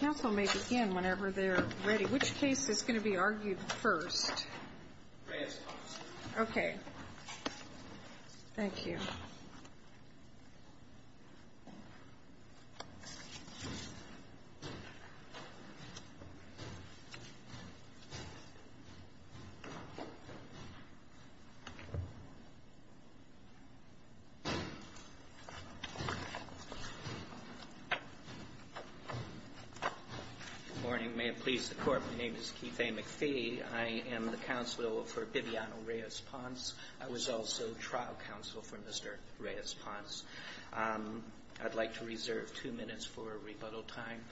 Counsel may begin whenever they're ready. Which case is going to be argued first? Reyes-Ponce. Okay. Thank you. Good morning. May it please the Court, my name is Keith A. McPhee. I am the counsel for Bibiano Reyes-Ponce. I was also trial counsel for Mr. Reyes-Ponce. I'd like to reserve two minutes for rebuttal time.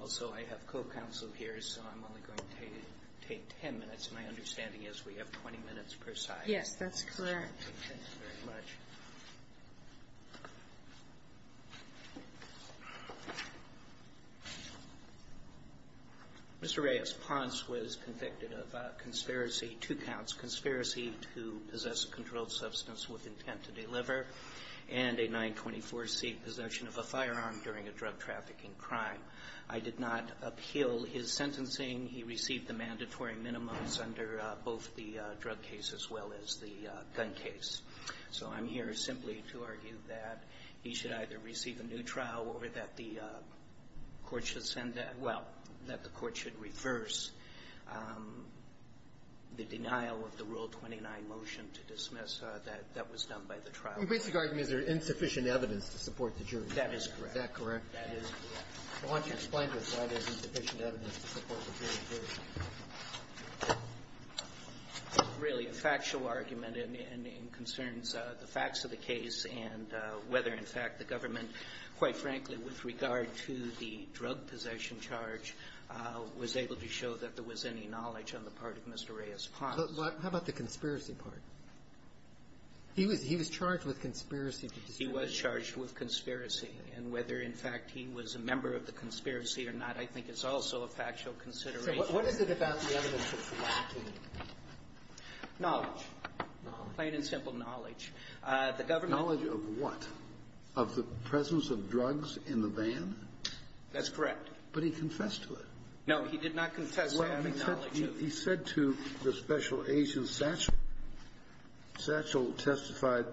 Also, I have co-counsel here, so I'm only going to take ten minutes. My understanding is we have 20 minutes per side. Yes, that's correct. Thank you very much. Mr. Reyes-Ponce was convicted of a conspiracy, two counts, conspiracy to possess a controlled substance with intent to deliver, and a 924c possession of a firearm during a drug trafficking crime. I did not appeal his sentencing. He received the mandatory minimums under both the drug case as well as the gun case. So I'm here simply to argue that he should either receive a new trial or that the court should send a – well, that the court should reverse the denial of the Rule 29 motion to dismiss that that was done by the trial. Your basic argument is there is insufficient evidence to support the jury. That is correct. That is correct. I want you to explain to us why there is insufficient evidence to support the jury. It's really a factual argument and concerns the facts of the case and whether, in fact, the government, quite frankly, with regard to the drug possession charge, was able to show that there was any knowledge on the part of Mr. Reyes-Ponce. How about the conspiracy part? He was charged with conspiracy. He was charged with conspiracy. And whether, in fact, he was a member of the conspiracy or not, I think, is also a factual consideration. So what is it about the evidence that's lacking? Knowledge. Knowledge. Plain and simple knowledge. The government – Knowledge of what? Of the presence of drugs in the van? That's correct. But he confessed to it. No, he did not confess to having knowledge of it.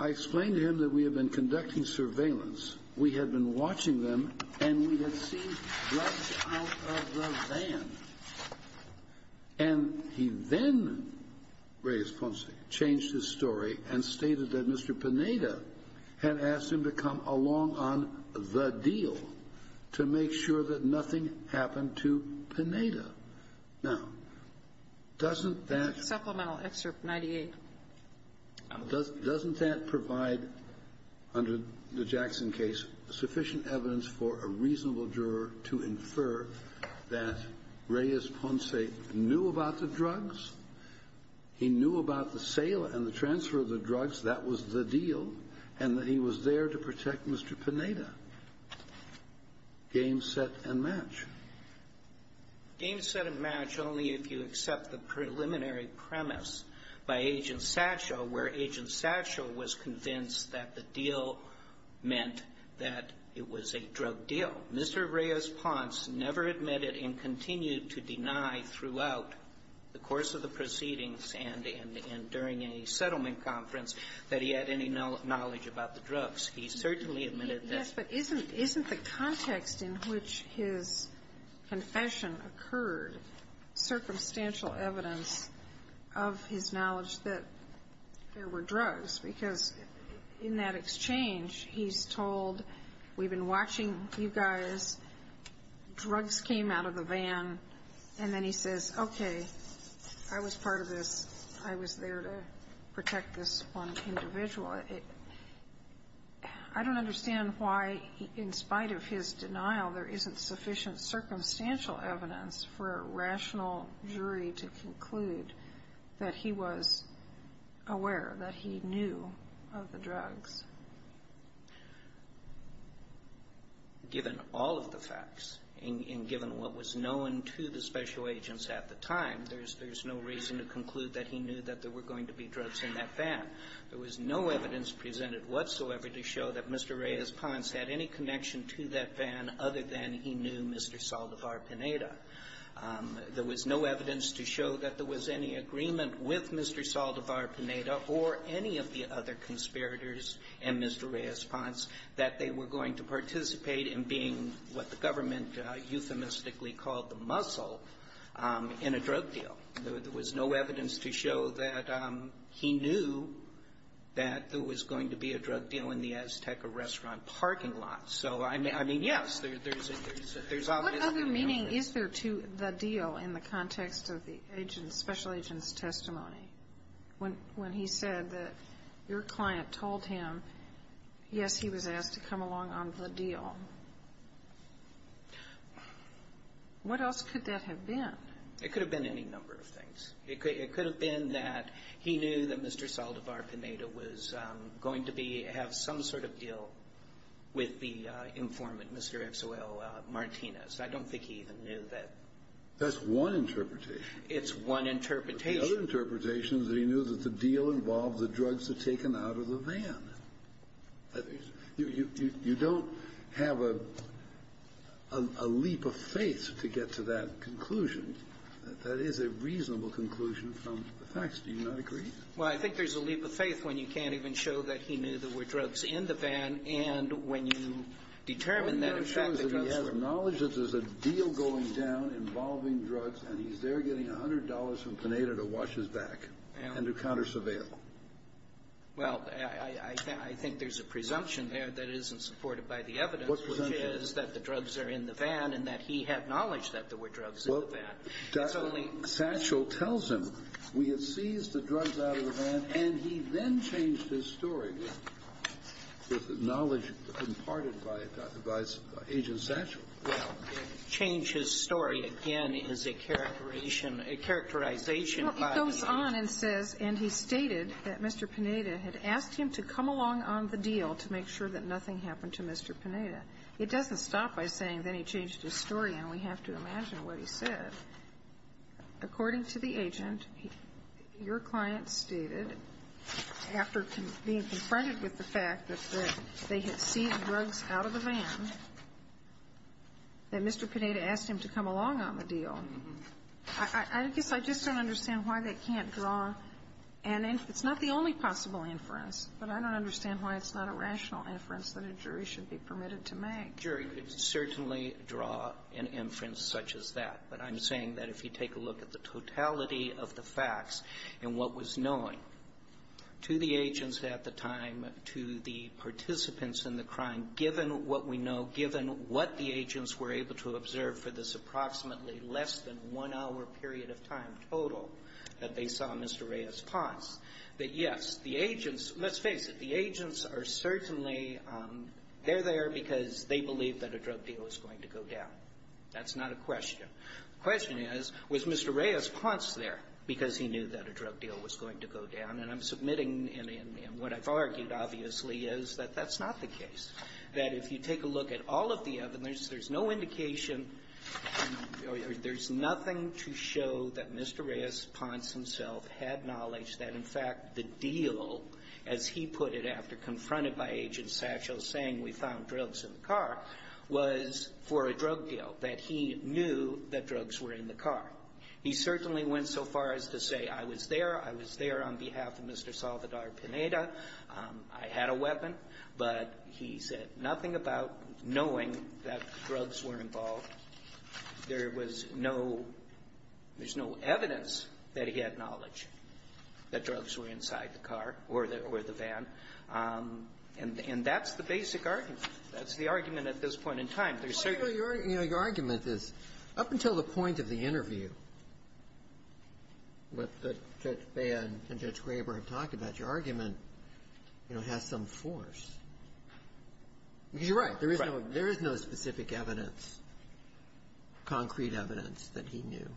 I explained to him that we had been conducting surveillance. We had been watching them, and we had seen drugs out of the van. And he then, Reyes-Ponce, changed his story and stated that Mr. Pineda had asked him to come along on the deal to make sure that nothing happened to Pineda. Now, doesn't that – Supplemental Excerpt 98. Doesn't that provide, under the Jackson case, sufficient evidence for a reasonable juror to infer that Reyes-Ponce knew about the drugs, he knew about the sale and the transfer of the drugs, that was the deal, and that he was there to protect Mr. Pineda? Game, set, and match. Game, set, and match only if you accept the preliminary premise by Agent Satchel, where Agent Satchel was convinced that the deal meant that it was a drug deal. Mr. Reyes-Ponce never admitted and continued to deny throughout the course of the proceedings and during a settlement conference that he had any knowledge about the drugs. He certainly admitted that. Yes, but isn't the context in which his confession occurred circumstantial evidence of his knowledge that there were drugs? Because in that exchange, he's told, we've been watching you guys, drugs came out of the van, and then he says, okay, I was part of this, I was there to protect this one individual. I don't understand why, in spite of his denial, there isn't sufficient circumstantial evidence for a rational jury to conclude that he was aware, that he knew of the drugs. Given all of the facts, and given what was known to the special agents at the time, there's no reason to conclude that he knew that there were going to be drugs in that van. There was no evidence presented whatsoever to show that Mr. Reyes-Ponce had any connection to that van other than he knew Mr. Saldivar-Pineda. There was no evidence to show that there was any agreement with Mr. Saldivar-Pineda or any of the other conspirators and Mr. Reyes-Ponce that they were going to participate in being what the government euphemistically called the muscle in a drug deal. There was no evidence to show that he knew that there was going to be a drug deal in the Azteca restaurant parking lot. So, I mean, yes, there's obviously an argument. What other meaning is there to the deal in the context of the agent's, special agent's testimony, when he said that your client told him, yes, he was asked to come along on the deal? What else could that have been? It could have been any number of things. It could have been that he knew that Mr. Saldivar-Pineda was going to be, have some sort of deal with the informant, Mr. X.O.L. Martinez. I don't think he even knew that. That's one interpretation. It's one interpretation. But the other interpretation is that he knew that the deal involved the drugs that were taken out of the van. You don't have a leap of faith to get to that conclusion. That is a reasonable conclusion from the facts. Do you not agree? Well, I think there's a leap of faith when you can't even show that he knew there were drugs in the van, and when you determine that, in fact, the drugs were in the van. But it shows that he has knowledge that there's a deal going down involving drugs, and he's there getting $100 from Pineda to wash his back and to counter surveil. Well, I think there's a presumption there that isn't supported by the evidence, which is that the drugs are in the van and that he had knowledge that there were drugs in the van. It's only ---- Well, Satchel tells him, we have seized the drugs out of the van, and he then changed his story with knowledge imparted by Agent Satchel. Well, change his story again is a characterization, a characterization by the ---- Well, I don't understand that Mr. Pineda had asked him to come along on the deal to make sure that nothing happened to Mr. Pineda. It doesn't stop by saying that he changed his story, and we have to imagine what he said. According to the agent, your client stated, after being confronted with the fact that they had seized drugs out of the van, that Mr. Pineda asked him to come along on the deal. I guess I just don't understand why they can't draw an inference. It's not the only possible inference, but I don't understand why it's not a rational inference that a jury should be permitted to make. A jury could certainly draw an inference such as that, but I'm saying that if you take a look at the totality of the facts and what was known to the agents at the time to the participants in the crime, given what we know, given what the agents were told in this approximately less than one-hour period of time total that they saw Mr. Reyes-Ponce, that, yes, the agents, let's face it, the agents are certainly there because they believe that a drug deal is going to go down. That's not a question. The question is, was Mr. Reyes-Ponce there because he knew that a drug deal was going to go down? And I'm submitting, and what I've argued, obviously, is that that's not the case, that if you take a look at all of the evidence, there's no indication or there's nothing to show that Mr. Reyes-Ponce himself had knowledge that, in fact, the deal, as he put it after confronted by Agent Satchel saying we found drugs in the car, was for a drug deal, that he knew that drugs were in the car. He certainly went so far as to say I was there, I was there on behalf of Mr. Salvador Pineda, I had a weapon, but he said nothing about knowing that drugs were involved. There was no – there's no evidence that he had knowledge that drugs were inside the car or the van. And that's the basic argument. That's the argument at this point in time. There's certainly no other. Roberts. Your argument is, up until the point of the interview, what Judge Bea and Judge Graber have said is that the argument, you know, has some force. Because you're right, there is no specific evidence, concrete evidence that he knew.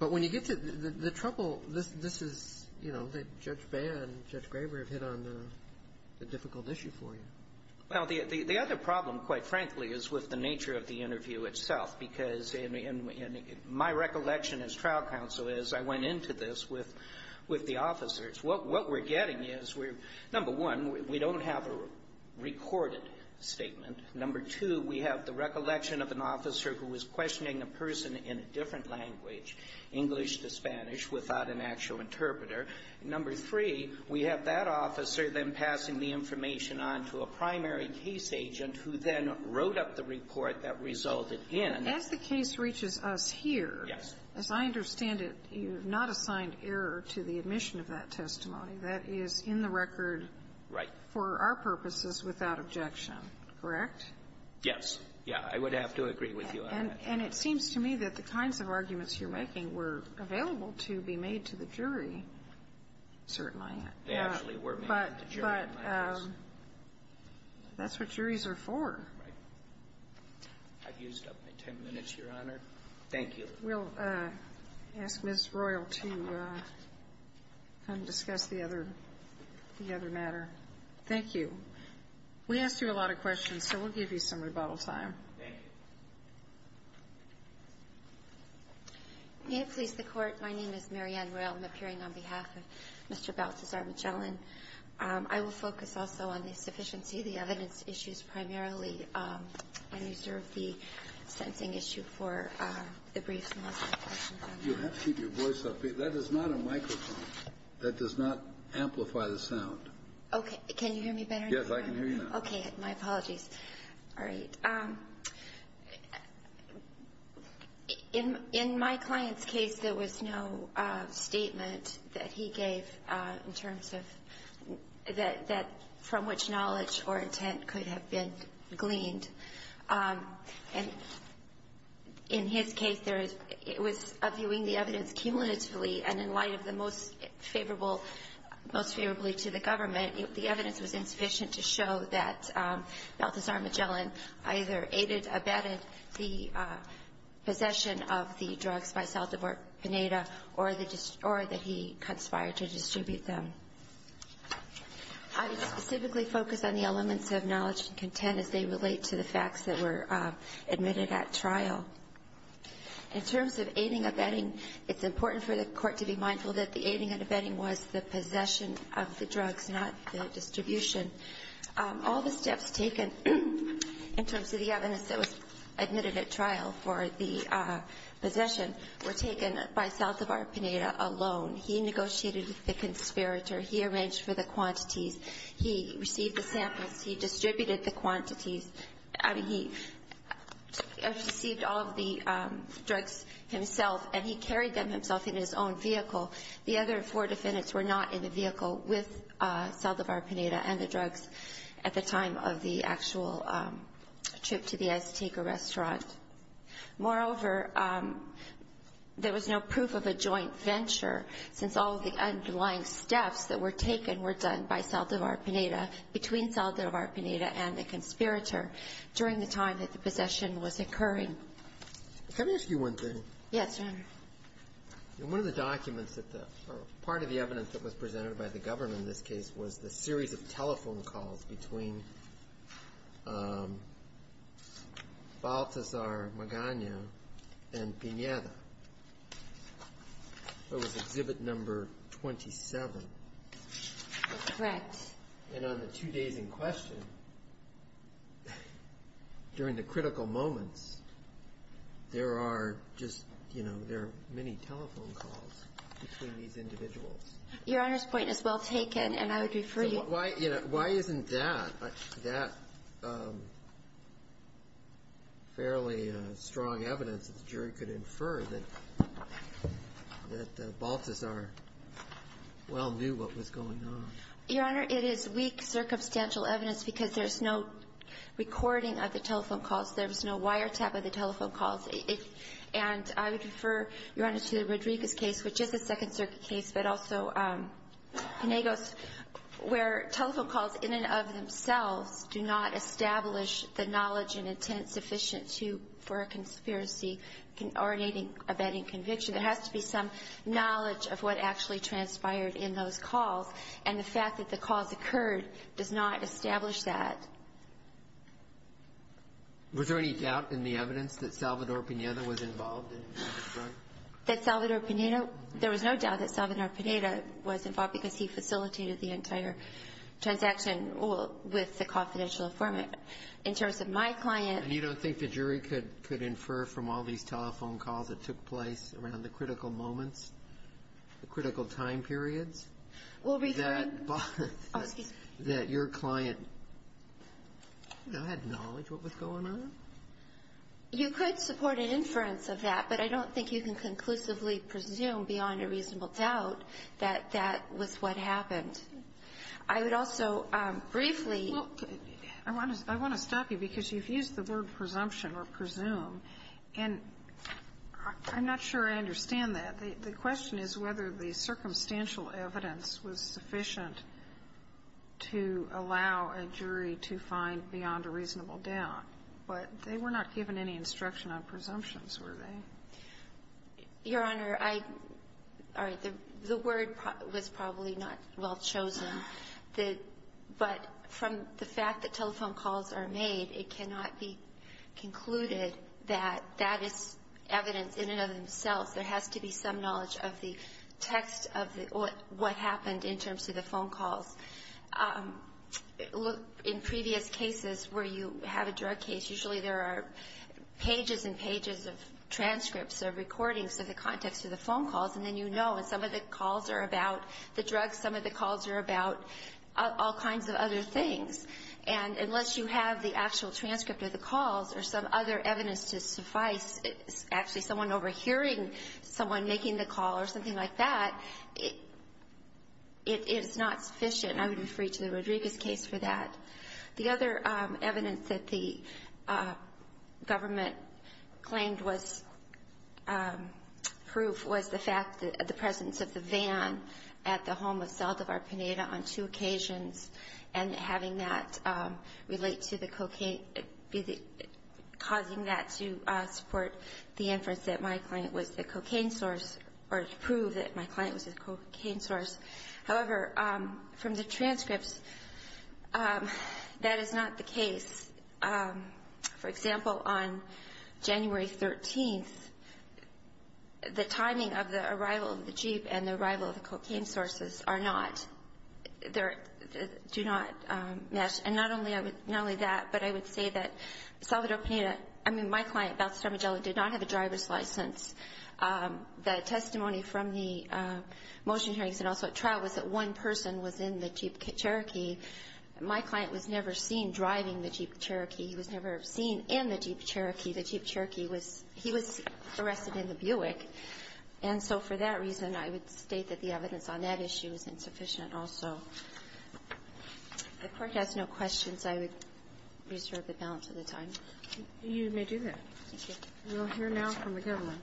But when you get to the trouble, this is, you know, that Judge Bea and Judge Graber have hit on the difficult issue for you. Well, the other problem, quite frankly, is with the nature of the interview itself, because in my recollection as trial counsel is I went into this with the officers, what we're getting is we're – number one, we don't have a recorded statement. Number two, we have the recollection of an officer who was questioning a person in a different language, English to Spanish, without an actual interpreter. Number three, we have that officer then passing the information on to a primary case agent who then wrote up the report that resulted in – But as the case reaches us here – As I understand it, you have not assigned error to the admission of that testimony. That is in the record for our purposes without objection, correct? Yes. Yeah. I would have to agree with you on that. And it seems to me that the kinds of arguments you're making were available to be made to the jury, certainly. They actually were made to the jury, yes. But that's what juries are for. Right. I've used up my ten minutes, Your Honor. Thank you. We'll ask Ms. Royal to come discuss the other – the other matter. Thank you. We asked you a lot of questions, so we'll give you some rebuttal time. Thank you. May it please the Court, my name is Mary Ann Royal. I'm appearing on behalf of Mr. Balthazar Magellan. I will focus also on the sufficiency of the evidence issues primarily and reserve the sensing issue for the briefs and the questions on that. You'll have to keep your voice up. That is not a microphone. That does not amplify the sound. Okay. Can you hear me better? Yes, I can hear you now. Okay. My apologies. All right. In my client's case, there was no statement that he gave in terms of – that – from which knowledge or intent could have been gleaned. And in his case, there is – it was a viewing the evidence cumulatively, and in light of the most favorable – most favorably to the government, the evidence was insufficient to show that Balthazar Magellan either aided, abetted the possession of the drugs by Saldivar-Pineda or that he conspired to distribute them. I specifically focus on the elements of knowledge and content as they relate to the facts that were admitted at trial. In terms of aiding, abetting, it's important for the court to be mindful that the aiding and abetting was the possession of the drugs, not the distribution. All the steps taken in terms of the evidence that was admitted at trial for the possession were taken by Saldivar-Pineda alone. He negotiated with the conspirator. He arranged for the quantities. He received the samples. He distributed the quantities. I mean, he received all of the drugs himself, and he carried them himself in his own vehicle. The other four defendants were not in the vehicle with Saldivar-Pineda and the drugs at the time of the actual trip to the Azteca restaurant. Moreover, there was no proof of a joint venture since all of the underlying steps that were taken were done by Saldivar-Pineda between Saldivar-Pineda and the conspirator during the time that the possession was occurring. Can I ask you one thing? Yes, Your Honor. In one of the documents that the, or part of the evidence that was presented by the government in this case was the series of telephone calls between Baltazar Magana and Pineda. That was Exhibit Number 27. Correct. And on the two days in question, during the critical moments, there are just, you know, there are many telephone calls between these individuals. Your Honor's point is well taken, and I would refer you to the... So why, you know, why isn't that, that fairly strong evidence that the jury could infer that Baltazar well knew what was going on? Your Honor, it is weak circumstantial evidence because there's no recording of the telephone calls. There was no wiretap of the telephone calls. And I would refer, Your Honor, to the Rodriguez case, which is a Second Circuit case, but also Pinegos, where telephone calls in and of themselves do not establish the knowledge and intent sufficient to, for a conspiracy originating of any conviction. There has to be some knowledge of what actually transpired in those calls. And the fact that the calls occurred does not establish that. Was there any doubt in the evidence that Salvador Pineda was involved in the drug? That Salvador Pineda, there was no doubt that Salvador Pineda was involved because he facilitated the entire transaction with the confidential informant. In terms of my client... And you don't think the jury could infer from all these telephone calls that took place around the critical moments, the critical time periods... Well, referring... ...that your client had knowledge of what was going on? You could support an inference of that, but I don't think you can conclusively presume beyond a reasonable doubt that that was what happened. I would also briefly... Look, I want to stop you because you've used the word presumption or presume. And I'm not sure I understand that. The question is whether the circumstantial evidence was sufficient to allow a jury to find beyond a reasonable doubt. But they were not given any instruction on presumptions, were they? Your Honor, I – all right. The word was probably not well chosen. But from the fact that telephone calls are made, it cannot be concluded that that is evidence in and of themselves. There has to be some knowledge of the text of what happened in terms of the phone calls. Look, in previous cases where you have a drug case, usually there are pages and pages of transcripts or recordings of the context of the phone calls. And then you know, and some of the calls are about the drugs, some of the calls are about all kinds of other things. And unless you have the actual transcript of the calls or some other evidence to suffice, actually someone overhearing someone making the call or something like that, it is not sufficient. I would refer you to the Rodriguez case for that. The other evidence that the government claimed was proof was the fact that the presence of the van at the home of Saldivar-Pineda on two occasions and having that relate to the cocaine – causing that to support the inference that my client was the cocaine source or to prove that my client was the cocaine source. However, from the transcripts, that is not the case. For example, on January 13th, the timing of the arrival of the jeep and the arrival of the cocaine sources are not – do not match. And not only that, but I would say that Saldivar-Pineda – I mean, my client, Balthazar Magella, did not have a driver's license. The testimony from the motion hearings and also at trial was that one person was in the Jeep Cherokee. My client was never seen driving the Jeep Cherokee. He was never seen in the Jeep Cherokee. The Jeep Cherokee was – he was arrested in the Buick. And so for that reason, I would state that the evidence on that issue is insufficient also. If the Court has no questions, I would reserve the balance of the time. Kagan. You may do that. Thank you. We'll hear now from the government.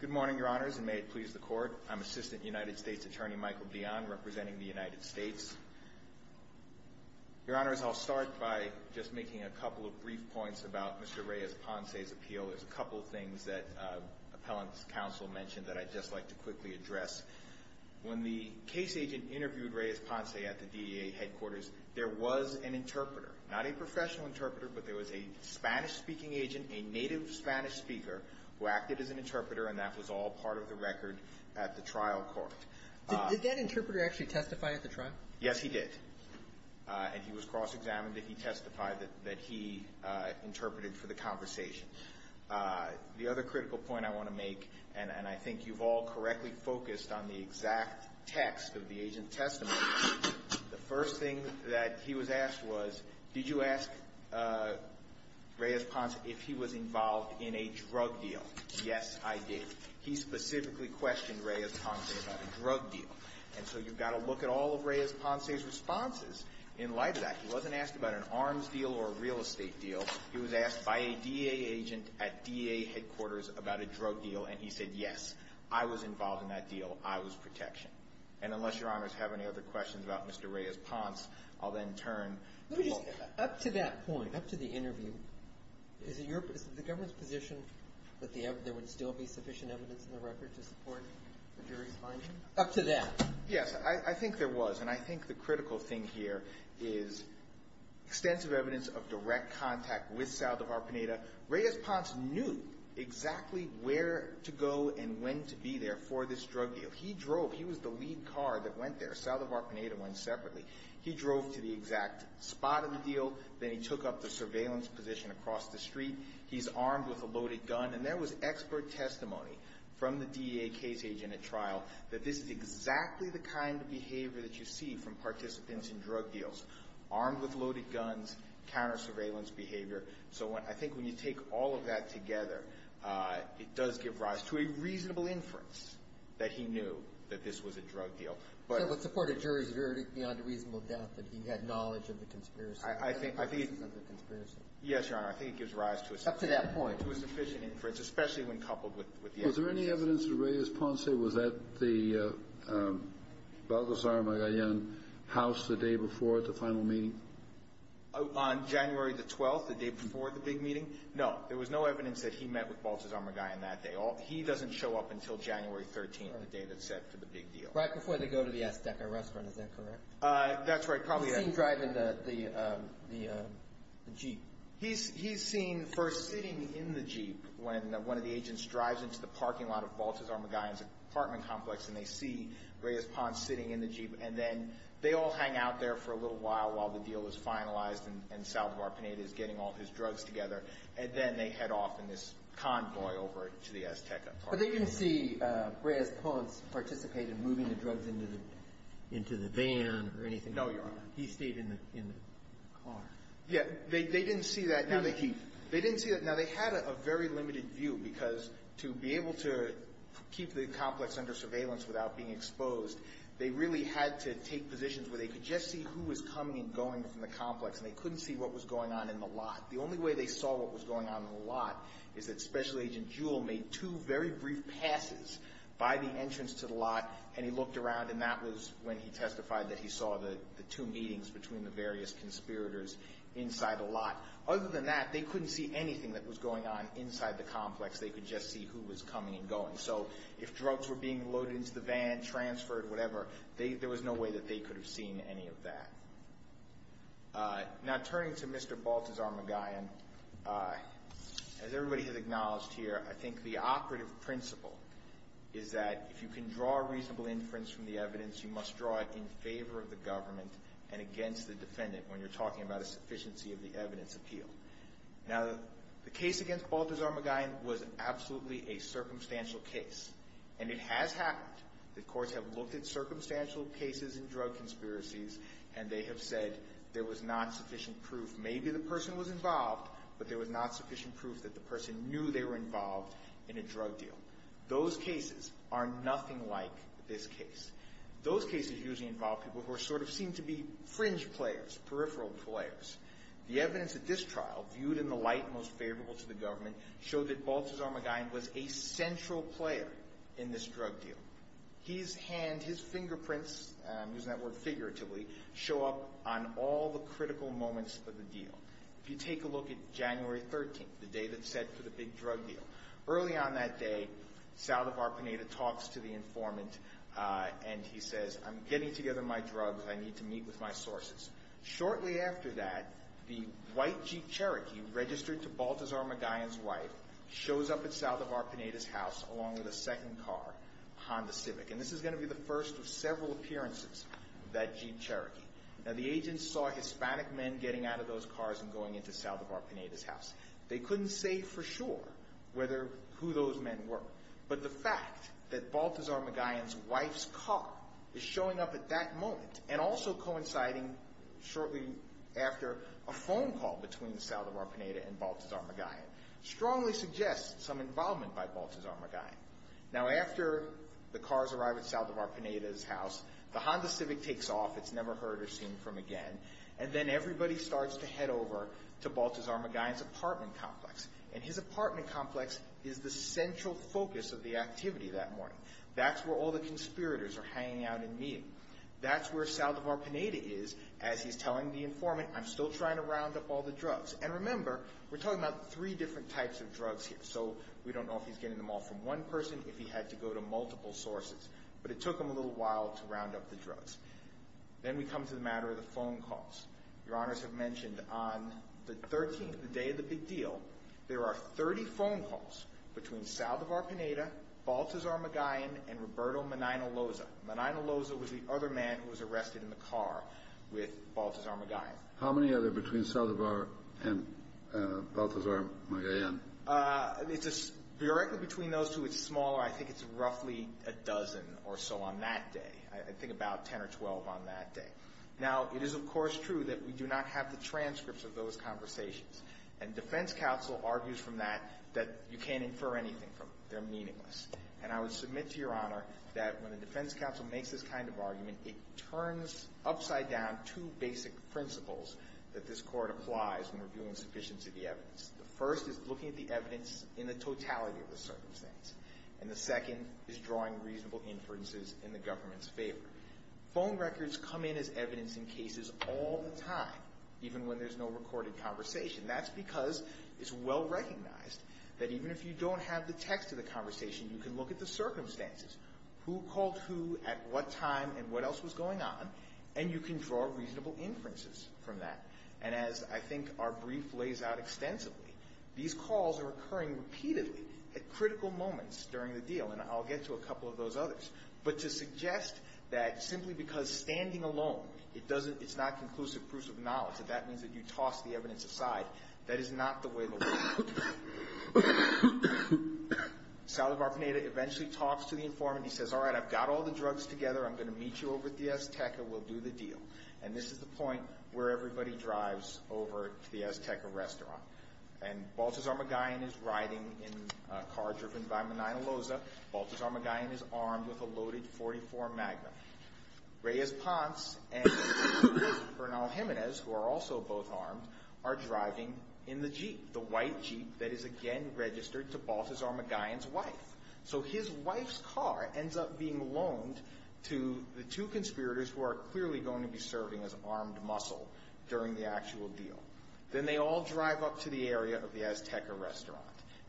Good morning, Your Honors, and may it please the Court. I'm Assistant United States Attorney Michael Dion representing the United States. Your Honors, I'll start by just making a couple of brief points about Mr. Reyes-Ponce's appeal. There's a couple of things that Appellant's counsel mentioned that I'd just like to quickly address. When the case agent interviewed Reyes-Ponce at the DEA headquarters, there was an interpreter. Not a professional interpreter, but there was a Spanish-speaking agent, a native Spanish speaker, who acted as an interpreter, and that was all part of the record at the trial court. Did that interpreter actually testify at the trial? Yes, he did. And he was cross-examined, and he testified that he interpreted for the conversation. The other critical point I want to make, and I think you've all correctly focused on the exact text of the agent's testimony, the first thing that he was asked was, did you ask Reyes-Ponce if he was involved in a drug deal? Yes, I did. He specifically questioned Reyes-Ponce about a drug deal. And so, you've got to look at all of Reyes-Ponce's responses in light of that. He wasn't asked about an arms deal or a real estate deal. He was asked by a DEA agent at DEA headquarters about a drug deal, and he said yes. I was involved in that deal. I was protection. And unless your honors have any other questions about Mr. Reyes-Ponce, I'll then turn to look at that. Up to that point, up to the interview, is it the government's position that there would still be sufficient evidence in the record to support the jury's finding? Up to that. Yes, I think there was, and I think the critical thing here is extensive evidence of direct contact with Sal Davar-Pineda. Reyes-Ponce knew exactly where to go and when to be there for this drug deal. He drove, he was the lead car that went there. Sal Davar-Pineda went separately. He drove to the exact spot of the deal, then he took up the surveillance position across the street. He's armed with a loaded gun. And there was expert testimony from the DEA case agent at trial that this is exactly the kind of behavior that you see from participants in drug deals, armed with loaded guns, counter surveillance behavior. So I think when you take all of that together, it does give rise to a reasonable inference that he knew that this was a drug deal. But- So it would support a jury's verdict beyond a reasonable doubt that he had knowledge of the conspiracy. I think- I think- The reasons of the conspiracy. Yes, Your Honor, I think it gives rise to a sufficient- Up to that point. To a sufficient inference, especially when coupled with the evidence. Was there any evidence that Reyes-Ponce was at the Balgozar Magallan house the day before the final meeting? On January the 12th, the day before the big meeting? No, there was no evidence that he met with Balgozar Magallan that day. He doesn't show up until January 13th, the day that's set for the big deal. Right before they go to the Azteca restaurant, is that correct? That's right, probably- He's seen driving the jeep. He's seen first sitting in the jeep when one of the agents drives into the parking lot of Balgozar Magallan's apartment complex and they see Reyes-Ponce sitting in the jeep. And then they all hang out there for a little while while the deal is finalized and Salvador Pineda is getting all his drugs together. And then they head off in this convoy over to the Azteca apartment. But they didn't see Reyes-Ponce participate in moving the drugs into the van or anything? No, Your Honor. He stayed in the car. Yeah, they didn't see that. Now, they had a very limited view because to be able to keep the complex under surveillance without being exposed, they really had to take positions where they could just see who was coming and going from the complex and they couldn't see what was going on in the lot. The only way they saw what was going on in the lot is that Special Agent Jewell made two very brief passes by the entrance to the lot and he looked around and that was when he testified that he saw the two meetings between the various conspirators inside the lot. Other than that, they couldn't see anything that was going on inside the complex. They could just see who was coming and going. If drugs were being loaded into the van, transferred, whatever, there was no way that they could have seen any of that. Now, turning to Mr. Baltazar-McGowan, as everybody has acknowledged here, I think the operative principle is that if you can draw a reasonable inference from the evidence, you must draw it in favor of the government and against the defendant when you're talking about a sufficiency of the evidence appeal. Now, the case against Baltazar-McGowan was absolutely a circumstantial case. And it has happened. The courts have looked at circumstantial cases in drug conspiracies and they have said there was not sufficient proof. Maybe the person was involved, but there was not sufficient proof that the person knew they were involved in a drug deal. Those cases are nothing like this case. Those cases usually involve people who sort of seem to be fringe players, peripheral players. The evidence at this trial, viewed in the light most favorable to the government, showed that Baltazar-McGowan was a central player in this drug deal. His hand, his fingerprints, I'm using that word figuratively, show up on all the critical moments of the deal. If you take a look at January 13th, the day that's set for the big drug deal. Early on that day, Salvador Pineda talks to the informant and he says, I'm getting together my drugs, I need to meet with my sources. Shortly after that, the white Jeep Cherokee registered to Baltazar McGowan's wife shows up at Salvador Pineda's house along with a second car, Honda Civic. And this is going to be the first of several appearances of that Jeep Cherokee. Now the agent saw Hispanic men getting out of those cars and going into Salvador Pineda's house. They couldn't say for sure whether, who those men were. But the fact that Baltazar McGowan's wife's car is showing up at that moment, and also coinciding shortly after a phone call between Salvador Pineda and Baltazar McGowan, strongly suggests some involvement by Baltazar McGowan. Now after the cars arrive at Salvador Pineda's house, the Honda Civic takes off, it's never heard or seen from again. And then everybody starts to head over to Baltazar McGowan's apartment complex. And his apartment complex is the central focus of the activity that morning. That's where all the conspirators are hanging out and meeting. That's where Salvador Pineda is, as he's telling the informant, I'm still trying to round up all the drugs. And remember, we're talking about three different types of drugs here. So we don't know if he's getting them all from one person, if he had to go to multiple sources. But it took him a little while to round up the drugs. Then we come to the matter of the phone calls. Your honors have mentioned on the 13th, the day of the big deal, there are 30 phone calls between Salvador Pineda, Baltazar McGowan, and Roberto Menino Loza. Menino Loza was the other man who was arrested in the car with Baltazar McGowan. How many are there between Salvador and Baltazar McGowan? It's directly between those two, it's smaller. I think it's roughly a dozen or so on that day. I think about 10 or 12 on that day. Now, it is of course true that we do not have the transcripts of those conversations. And defense counsel argues from that, that you can't infer anything from them. They're meaningless. And I would submit to your honor that when the defense counsel makes this kind of argument, it turns upside down two basic principles that this court applies when reviewing sufficiency of the evidence. The first is looking at the evidence in the totality of the circumstance. And the second is drawing reasonable inferences in the government's favor. Phone records come in as evidence in cases all the time, even when there's no recorded conversation. That's because it's well recognized that even if you don't have the text of the conversation, you can look at the circumstances. Who called who, at what time, and what else was going on? And you can draw reasonable inferences from that. And as I think our brief lays out extensively, these calls are occurring repeatedly at critical moments during the deal, and I'll get to a couple of those others. But to suggest that simply because standing alone, it's not conclusive proofs of knowledge, that that means that you toss the evidence aside, that is not the way the law works. Salazar Panetta eventually talks to the informant. He says, all right, I've got all the drugs together. I'm going to meet you over at the Azteca. We'll do the deal. And this is the point where everybody drives over to the Azteca restaurant. And Baltazar Magallan is riding in a car driven by Menino Loza. Baltazar Magallan is armed with a loaded .44 Magnum. Reyes Ponce and Bernal Jimenez, who are also both armed, are driving in the Jeep. That is again registered to Baltazar Magallan's wife. So his wife's car ends up being loaned to the two conspirators who are clearly going to be serving as armed muscle during the actual deal. Then they all drive up to the area of the Azteca restaurant.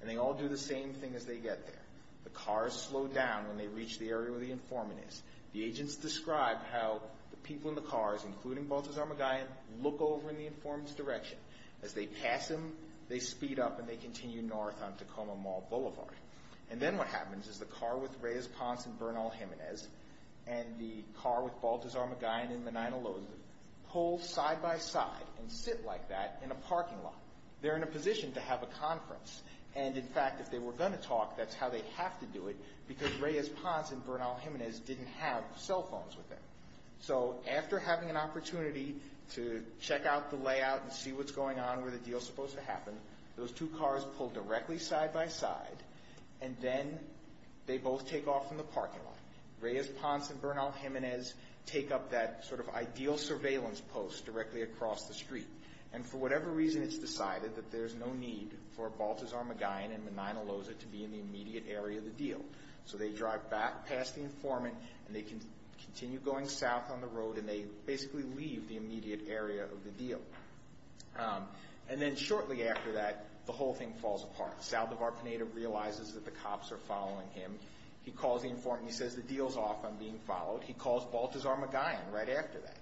And they all do the same thing as they get there. The cars slow down when they reach the area where the informant is. The agents describe how the people in the cars, including Baltazar Magallan, look over in the informant's direction. As they pass him, they speed up and they continue north on Tacoma Mall Boulevard. And then what happens is the car with Reyes Ponce and Bernal Jimenez and the car with Baltazar Magallan and Menino Loza pull side by side and sit like that in a parking lot. They're in a position to have a conference. And in fact, if they were going to talk, that's how they have to do it because Reyes Ponce and Bernal Jimenez didn't have cell phones with them. So after having an opportunity to check out the layout and see what's going on where the deal's supposed to happen, those two cars pull directly side by side. And then they both take off from the parking lot. Reyes Ponce and Bernal Jimenez take up that sort of ideal surveillance post directly across the street. And for whatever reason, it's decided that there's no need for Baltazar Magallan and Menino Loza to be in the immediate area of the deal. So they drive back past the informant and they continue going south on the road and they basically leave the immediate area of the deal. And then shortly after that, the whole thing falls apart. Saldivar-Pineda realizes that the cops are following him. He calls the informant. He says the deal's off. I'm being followed. He calls Baltazar Magallan right after that.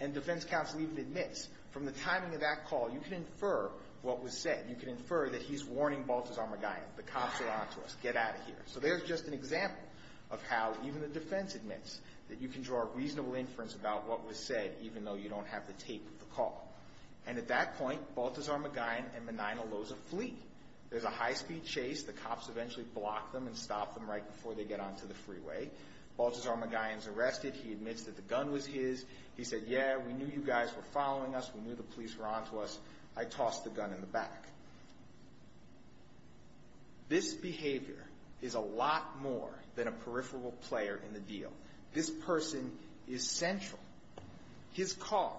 And defense counsel even admits from the timing of that call, you can infer what was said. You can infer that he's warning Baltazar Magallan. The cops are onto us. Get out of here. So there's just an example of how even the defense admits that you can draw a reasonable inference about what was said, even though you don't have the tape of the call. And at that point, Baltazar Magallan and Menino Loza flee. There's a high-speed chase. The cops eventually block them and stop them right before they get onto the freeway. Baltazar Magallan's arrested. He admits that the gun was his. He said, yeah, we knew you guys were following us. We knew the police were onto us. I tossed the gun in the back. This behavior is a lot more than a peripheral player in the deal. This person is central. His car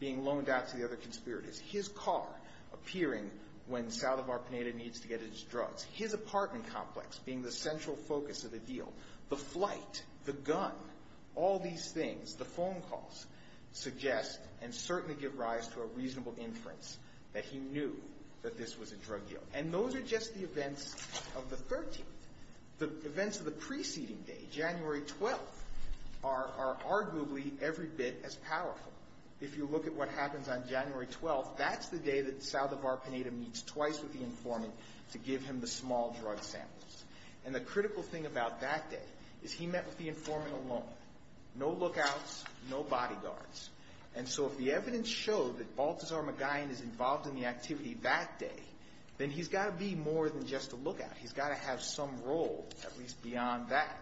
being loaned out to the other conspirators, his car appearing when Salvador Pineda needs to get his drugs, his apartment complex being the central focus of the deal, the flight, the gun, all these things, the phone calls, suggest and certainly give rise to a reasonable inference that he knew that this was a drug deal. And those are just the events of the 13th. The events of the preceding day, January 12th, are arguably every bit as powerful. If you look at what happens on January 12th, that's the day that Salvador Pineda meets twice with the informant to give him the small drug samples. And the critical thing about that day is he met with the informant alone. No lookouts, no bodyguards. And so if the evidence showed that Baltazar Magallan is involved in the activity that day, then he's got to be more than just a lookout. He's got to have some role, at least beyond that.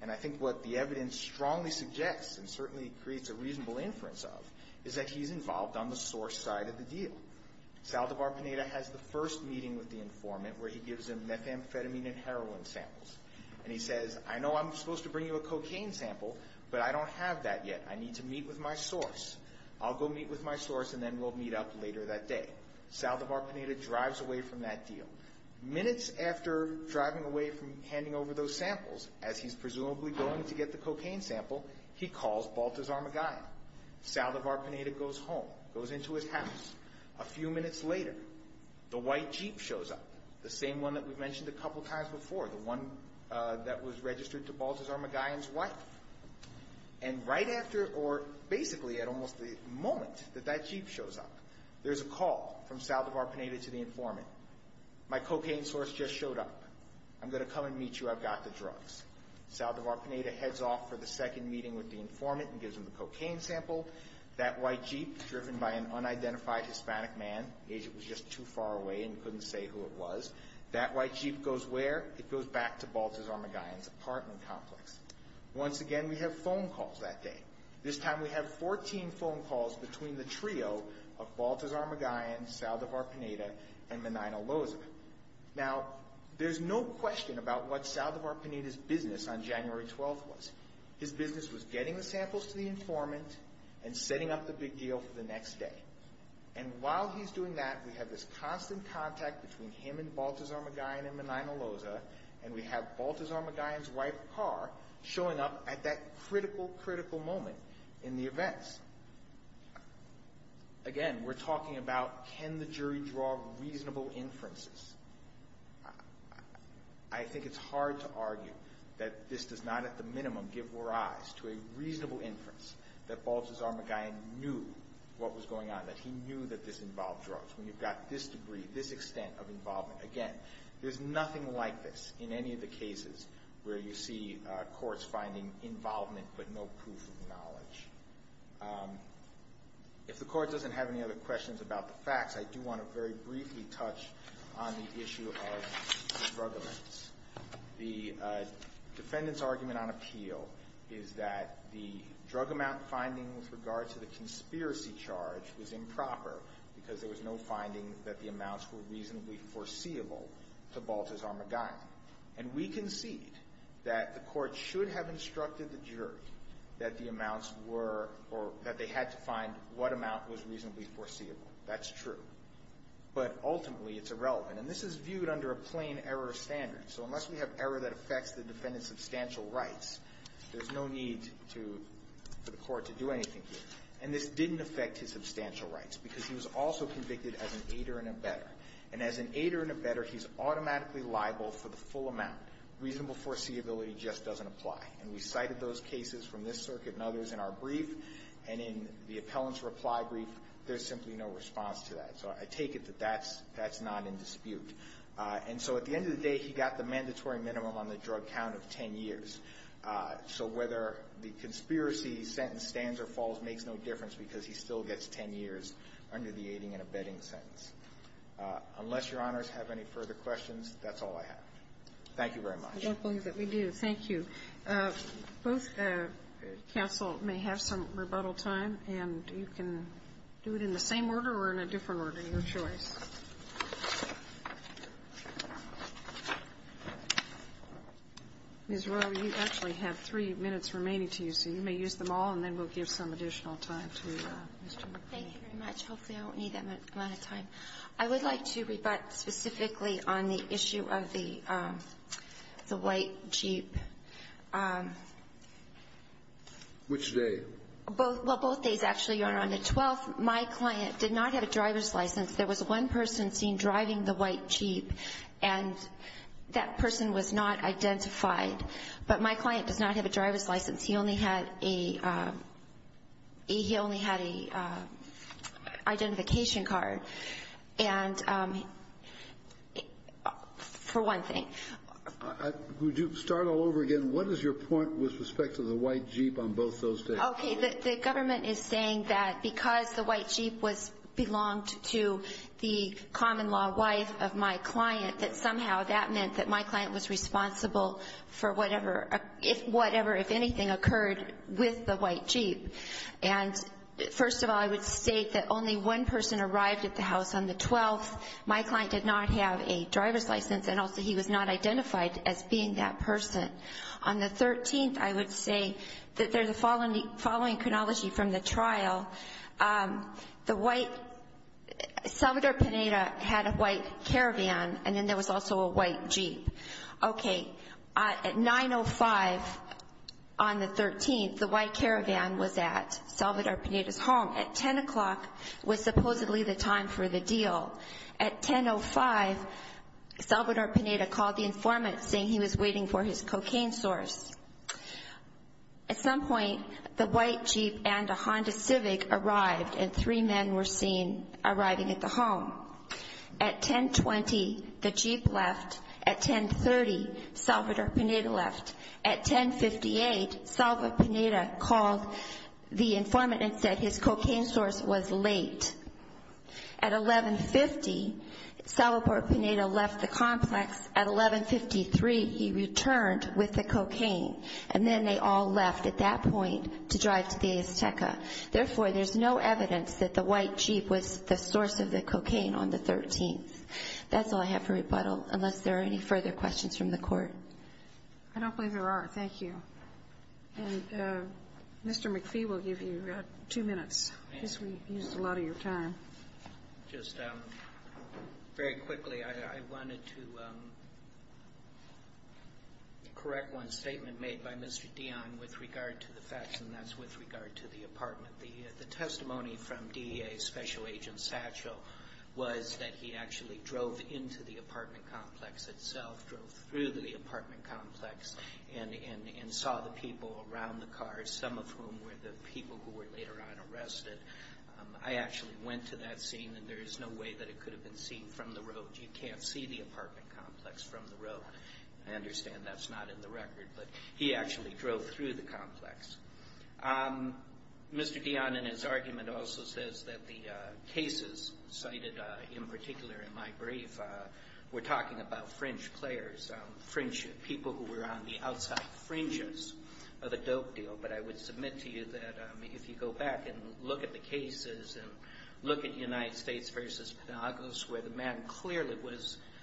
And I think what the evidence strongly suggests and certainly creates a reasonable inference of is that he's involved on the source side of the deal. Salvador Pineda has the first meeting with the informant where he gives him methamphetamine and heroin samples. And he says, I know I'm supposed to bring you a cocaine sample, but I don't have that yet. I need to meet with my source. I'll go meet with my source and then we'll meet up later that day. Salvador Pineda drives away from that deal. Minutes after driving away from handing over those samples, as he's presumably going to get the cocaine sample, he calls Baltazar Magallan. Salvador Pineda goes home, goes into his house. A few minutes later, the white Jeep shows up. The same one that we mentioned a couple times before. The one that was registered to Baltazar Magallan's wife. And right after, or basically at almost the moment that that Jeep shows up, there's a call from Salvador Pineda to the informant. My cocaine source just showed up. I'm going to come and meet you. I've got the drugs. Salvador Pineda heads off for the second meeting with the informant and gives him the cocaine sample. That white Jeep, driven by an unidentified Hispanic man, the agent was just too far away and couldn't say who it was, that white Jeep goes where? It goes back to Baltazar Magallan's apartment complex. Once again, we have phone calls that day. This time, we have 14 phone calls between the trio of Baltazar Magallan, Salvador Pineda, and Menino Loza. Now, there's no question about what Salvador Pineda's business on January 12th was. His business was getting the samples to the informant and setting up the big deal for the next day. And while he's doing that, we have this constant contact between him and Baltazar Magallan and Menino Loza, and we have Baltazar Magallan's white car showing up at that critical, critical moment in the events. Again, we're talking about, can the jury draw reasonable inferences? I think it's hard to argue that this does not, at the minimum, give rise to a reasonable inference that Baltazar Magallan knew what was going on, that he knew that this involved drugs. When you've got this degree, this extent of involvement, again, there's nothing like this in any of the cases where you see courts finding involvement but no proof of knowledge. If the court doesn't have any other questions about the facts, I do want to very briefly touch on the issue of the drug amounts. The defendant's argument on appeal is that the drug amount finding with regard to the conspiracy charge was improper because there was no finding that the amounts were reasonably foreseeable to Baltazar Magallan. And we concede that the court should have instructed the jury that the amounts were, or that they had to find what amount was reasonably foreseeable. That's true. But ultimately, it's irrelevant. And this is viewed under a plain error standard. So unless we have error that affects the defendant's substantial rights, there's no need to, for the court to do anything here. And this didn't affect his substantial rights because he was also convicted as an aider and a better. And as an aider and a better, he's automatically liable for the full amount. Reasonable foreseeability just doesn't apply. And we cited those cases from this circuit and others in our brief. And in the appellant's reply brief, there's simply no response to that. So I take it that that's not in dispute. And so at the end of the day, he got the mandatory minimum on the drug count of 10 years. So whether the conspiracy sentence stands or falls makes no difference because he still gets 10 years under the aiding and abetting sentence. Unless Your Honors have any further questions, that's all I have. Thank you very much. I don't believe that we do. Thank you. Both counsel may have some rebuttal time. And you can do it in the same order or in a different order, your choice. Ms. Royer, you actually have three minutes remaining to use. So you may use them all, and then we'll give some additional time to Mr. McKinney. Thank you very much. Hopefully, I won't need that amount of time. I would like to rebut specifically on the issue of the white Jeep. Which day? Well, both days, actually, Your Honor. On the 12th, my client did not have a driver's license. There was one person seen driving the white Jeep, and that person was not identified. But my client does not have a driver's license. He only had a identification card, for one thing. Would you start all over again? What is your point with respect to the white Jeep on both those days? Okay. The government is saying that because the white Jeep belonged to the common-law wife of my client, that somehow that meant that my client was responsible for whatever, if anything, occurred with the white Jeep. And first of all, I would state that only one person arrived at the house on the 12th. My client did not have a driver's license, and also he was not identified as being that person. On the 13th, I would say that there's a following chronology from the trial. The white ‑‑ Salvador Pineda had a white caravan, and then there was also a white Jeep. Okay. At 9.05 on the 13th, the white caravan was at Salvador Pineda's home. At 10 o'clock was supposedly the time for the deal. At 10.05, Salvador Pineda called the informant, saying he was waiting for his cocaine source. At some point, the white Jeep and a Honda Civic arrived, and three men were seen arriving at the home. At 10.20, the Jeep left. At 10.30, Salvador Pineda left. At 10.58, Salvador Pineda called the informant and said his cocaine source was late. At 11.50, Salvador Pineda left the complex. At 11.53, he returned with the cocaine, and then they all left at that point to drive to the Azteca. Therefore, there's no evidence that the white Jeep was the source of the cocaine on the 13th. That's all I have for rebuttal, unless there are any further questions from the Court. I don't believe there are. Thank you. And Mr. McPhee will give you two minutes. I guess we used a lot of your time. Just very quickly, I wanted to correct one statement made by Mr. Dion with regard to the facts, and that's with regard to the apartment. The testimony from DEA Special Agent Satchel was that he actually drove into the apartment complex itself, drove through the apartment complex, and saw the people around the car, some of whom were the people who were later on arrested. I actually went to that scene, and there is no way that it could have been seen from the road. You can't see the apartment complex from the road. I understand that's not in the record, but he actually drove through the complex. Mr. Dion, in his argument, also says that the cases cited in particular in my brief were talking about fringe players, people who were on the outside fringes of a dope deal. But I would submit to you that if you go back and look at the cases and look at United States v. Penagos, where the man clearly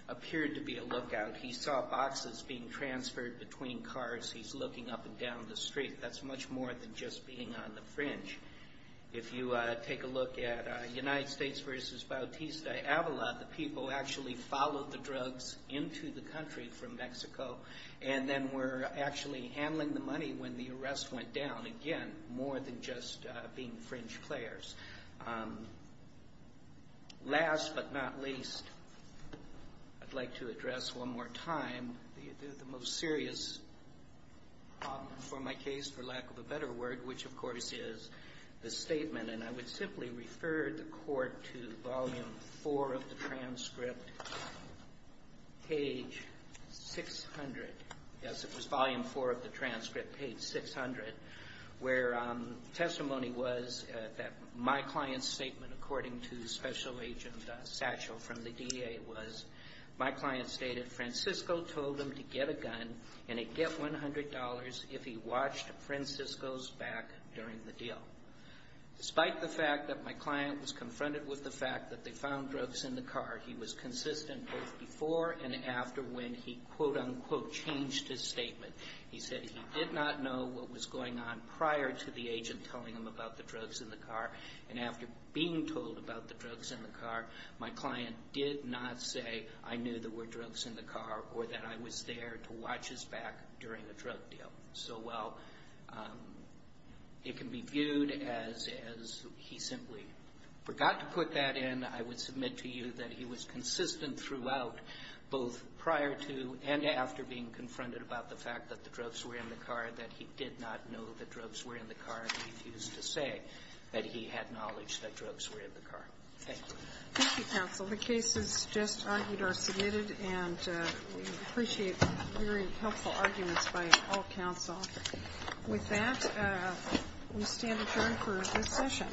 appeared to be a lookout, he saw boxes being transferred between cars. He's looking up and down the street. That's much more than just being on the fringe. If you take a look at United States v. Bautista-Avila, the people actually followed the drugs into the country from Mexico, and then were actually handling the money when the arrest went down. Again, more than just being fringe players. Last but not least, I'd like to address one more time the most serious problem for my case, for lack of a better word, which, of course, is the statement. And I would simply refer the court to Volume 4 of the transcript, page 600. Yes, it was Volume 4 of the transcript, page 600, where the testimony was that my client's statement, according to Special Agent Satchel from the DA, was my client stated, Francisco told him to get a gun and he'd get $100 if he watched Francisco's back during the deal. Despite the fact that my client was confronted with the fact that they found drugs in the car, he was consistent both before and after when he, quote, unquote, changed his statement. He said he did not know what was going on prior to the agent telling him about the drugs in the car, and after being told about the drugs in the car, my client did not say, I knew there were drugs in the car or that I was there to watch his back during the drug deal. So while it can be viewed as he simply forgot to put that in, I would submit to you that he was consistent throughout, both prior to and after being confronted about the fact that the drugs were in the car, that he did not know the drugs were in the car and refused to say that he had knowledge that drugs were in the car. Thank you. Thank you, counsel. The cases just argued are submitted, and we appreciate your helpful arguments by all counsel. With that, we stand adjourned for this session.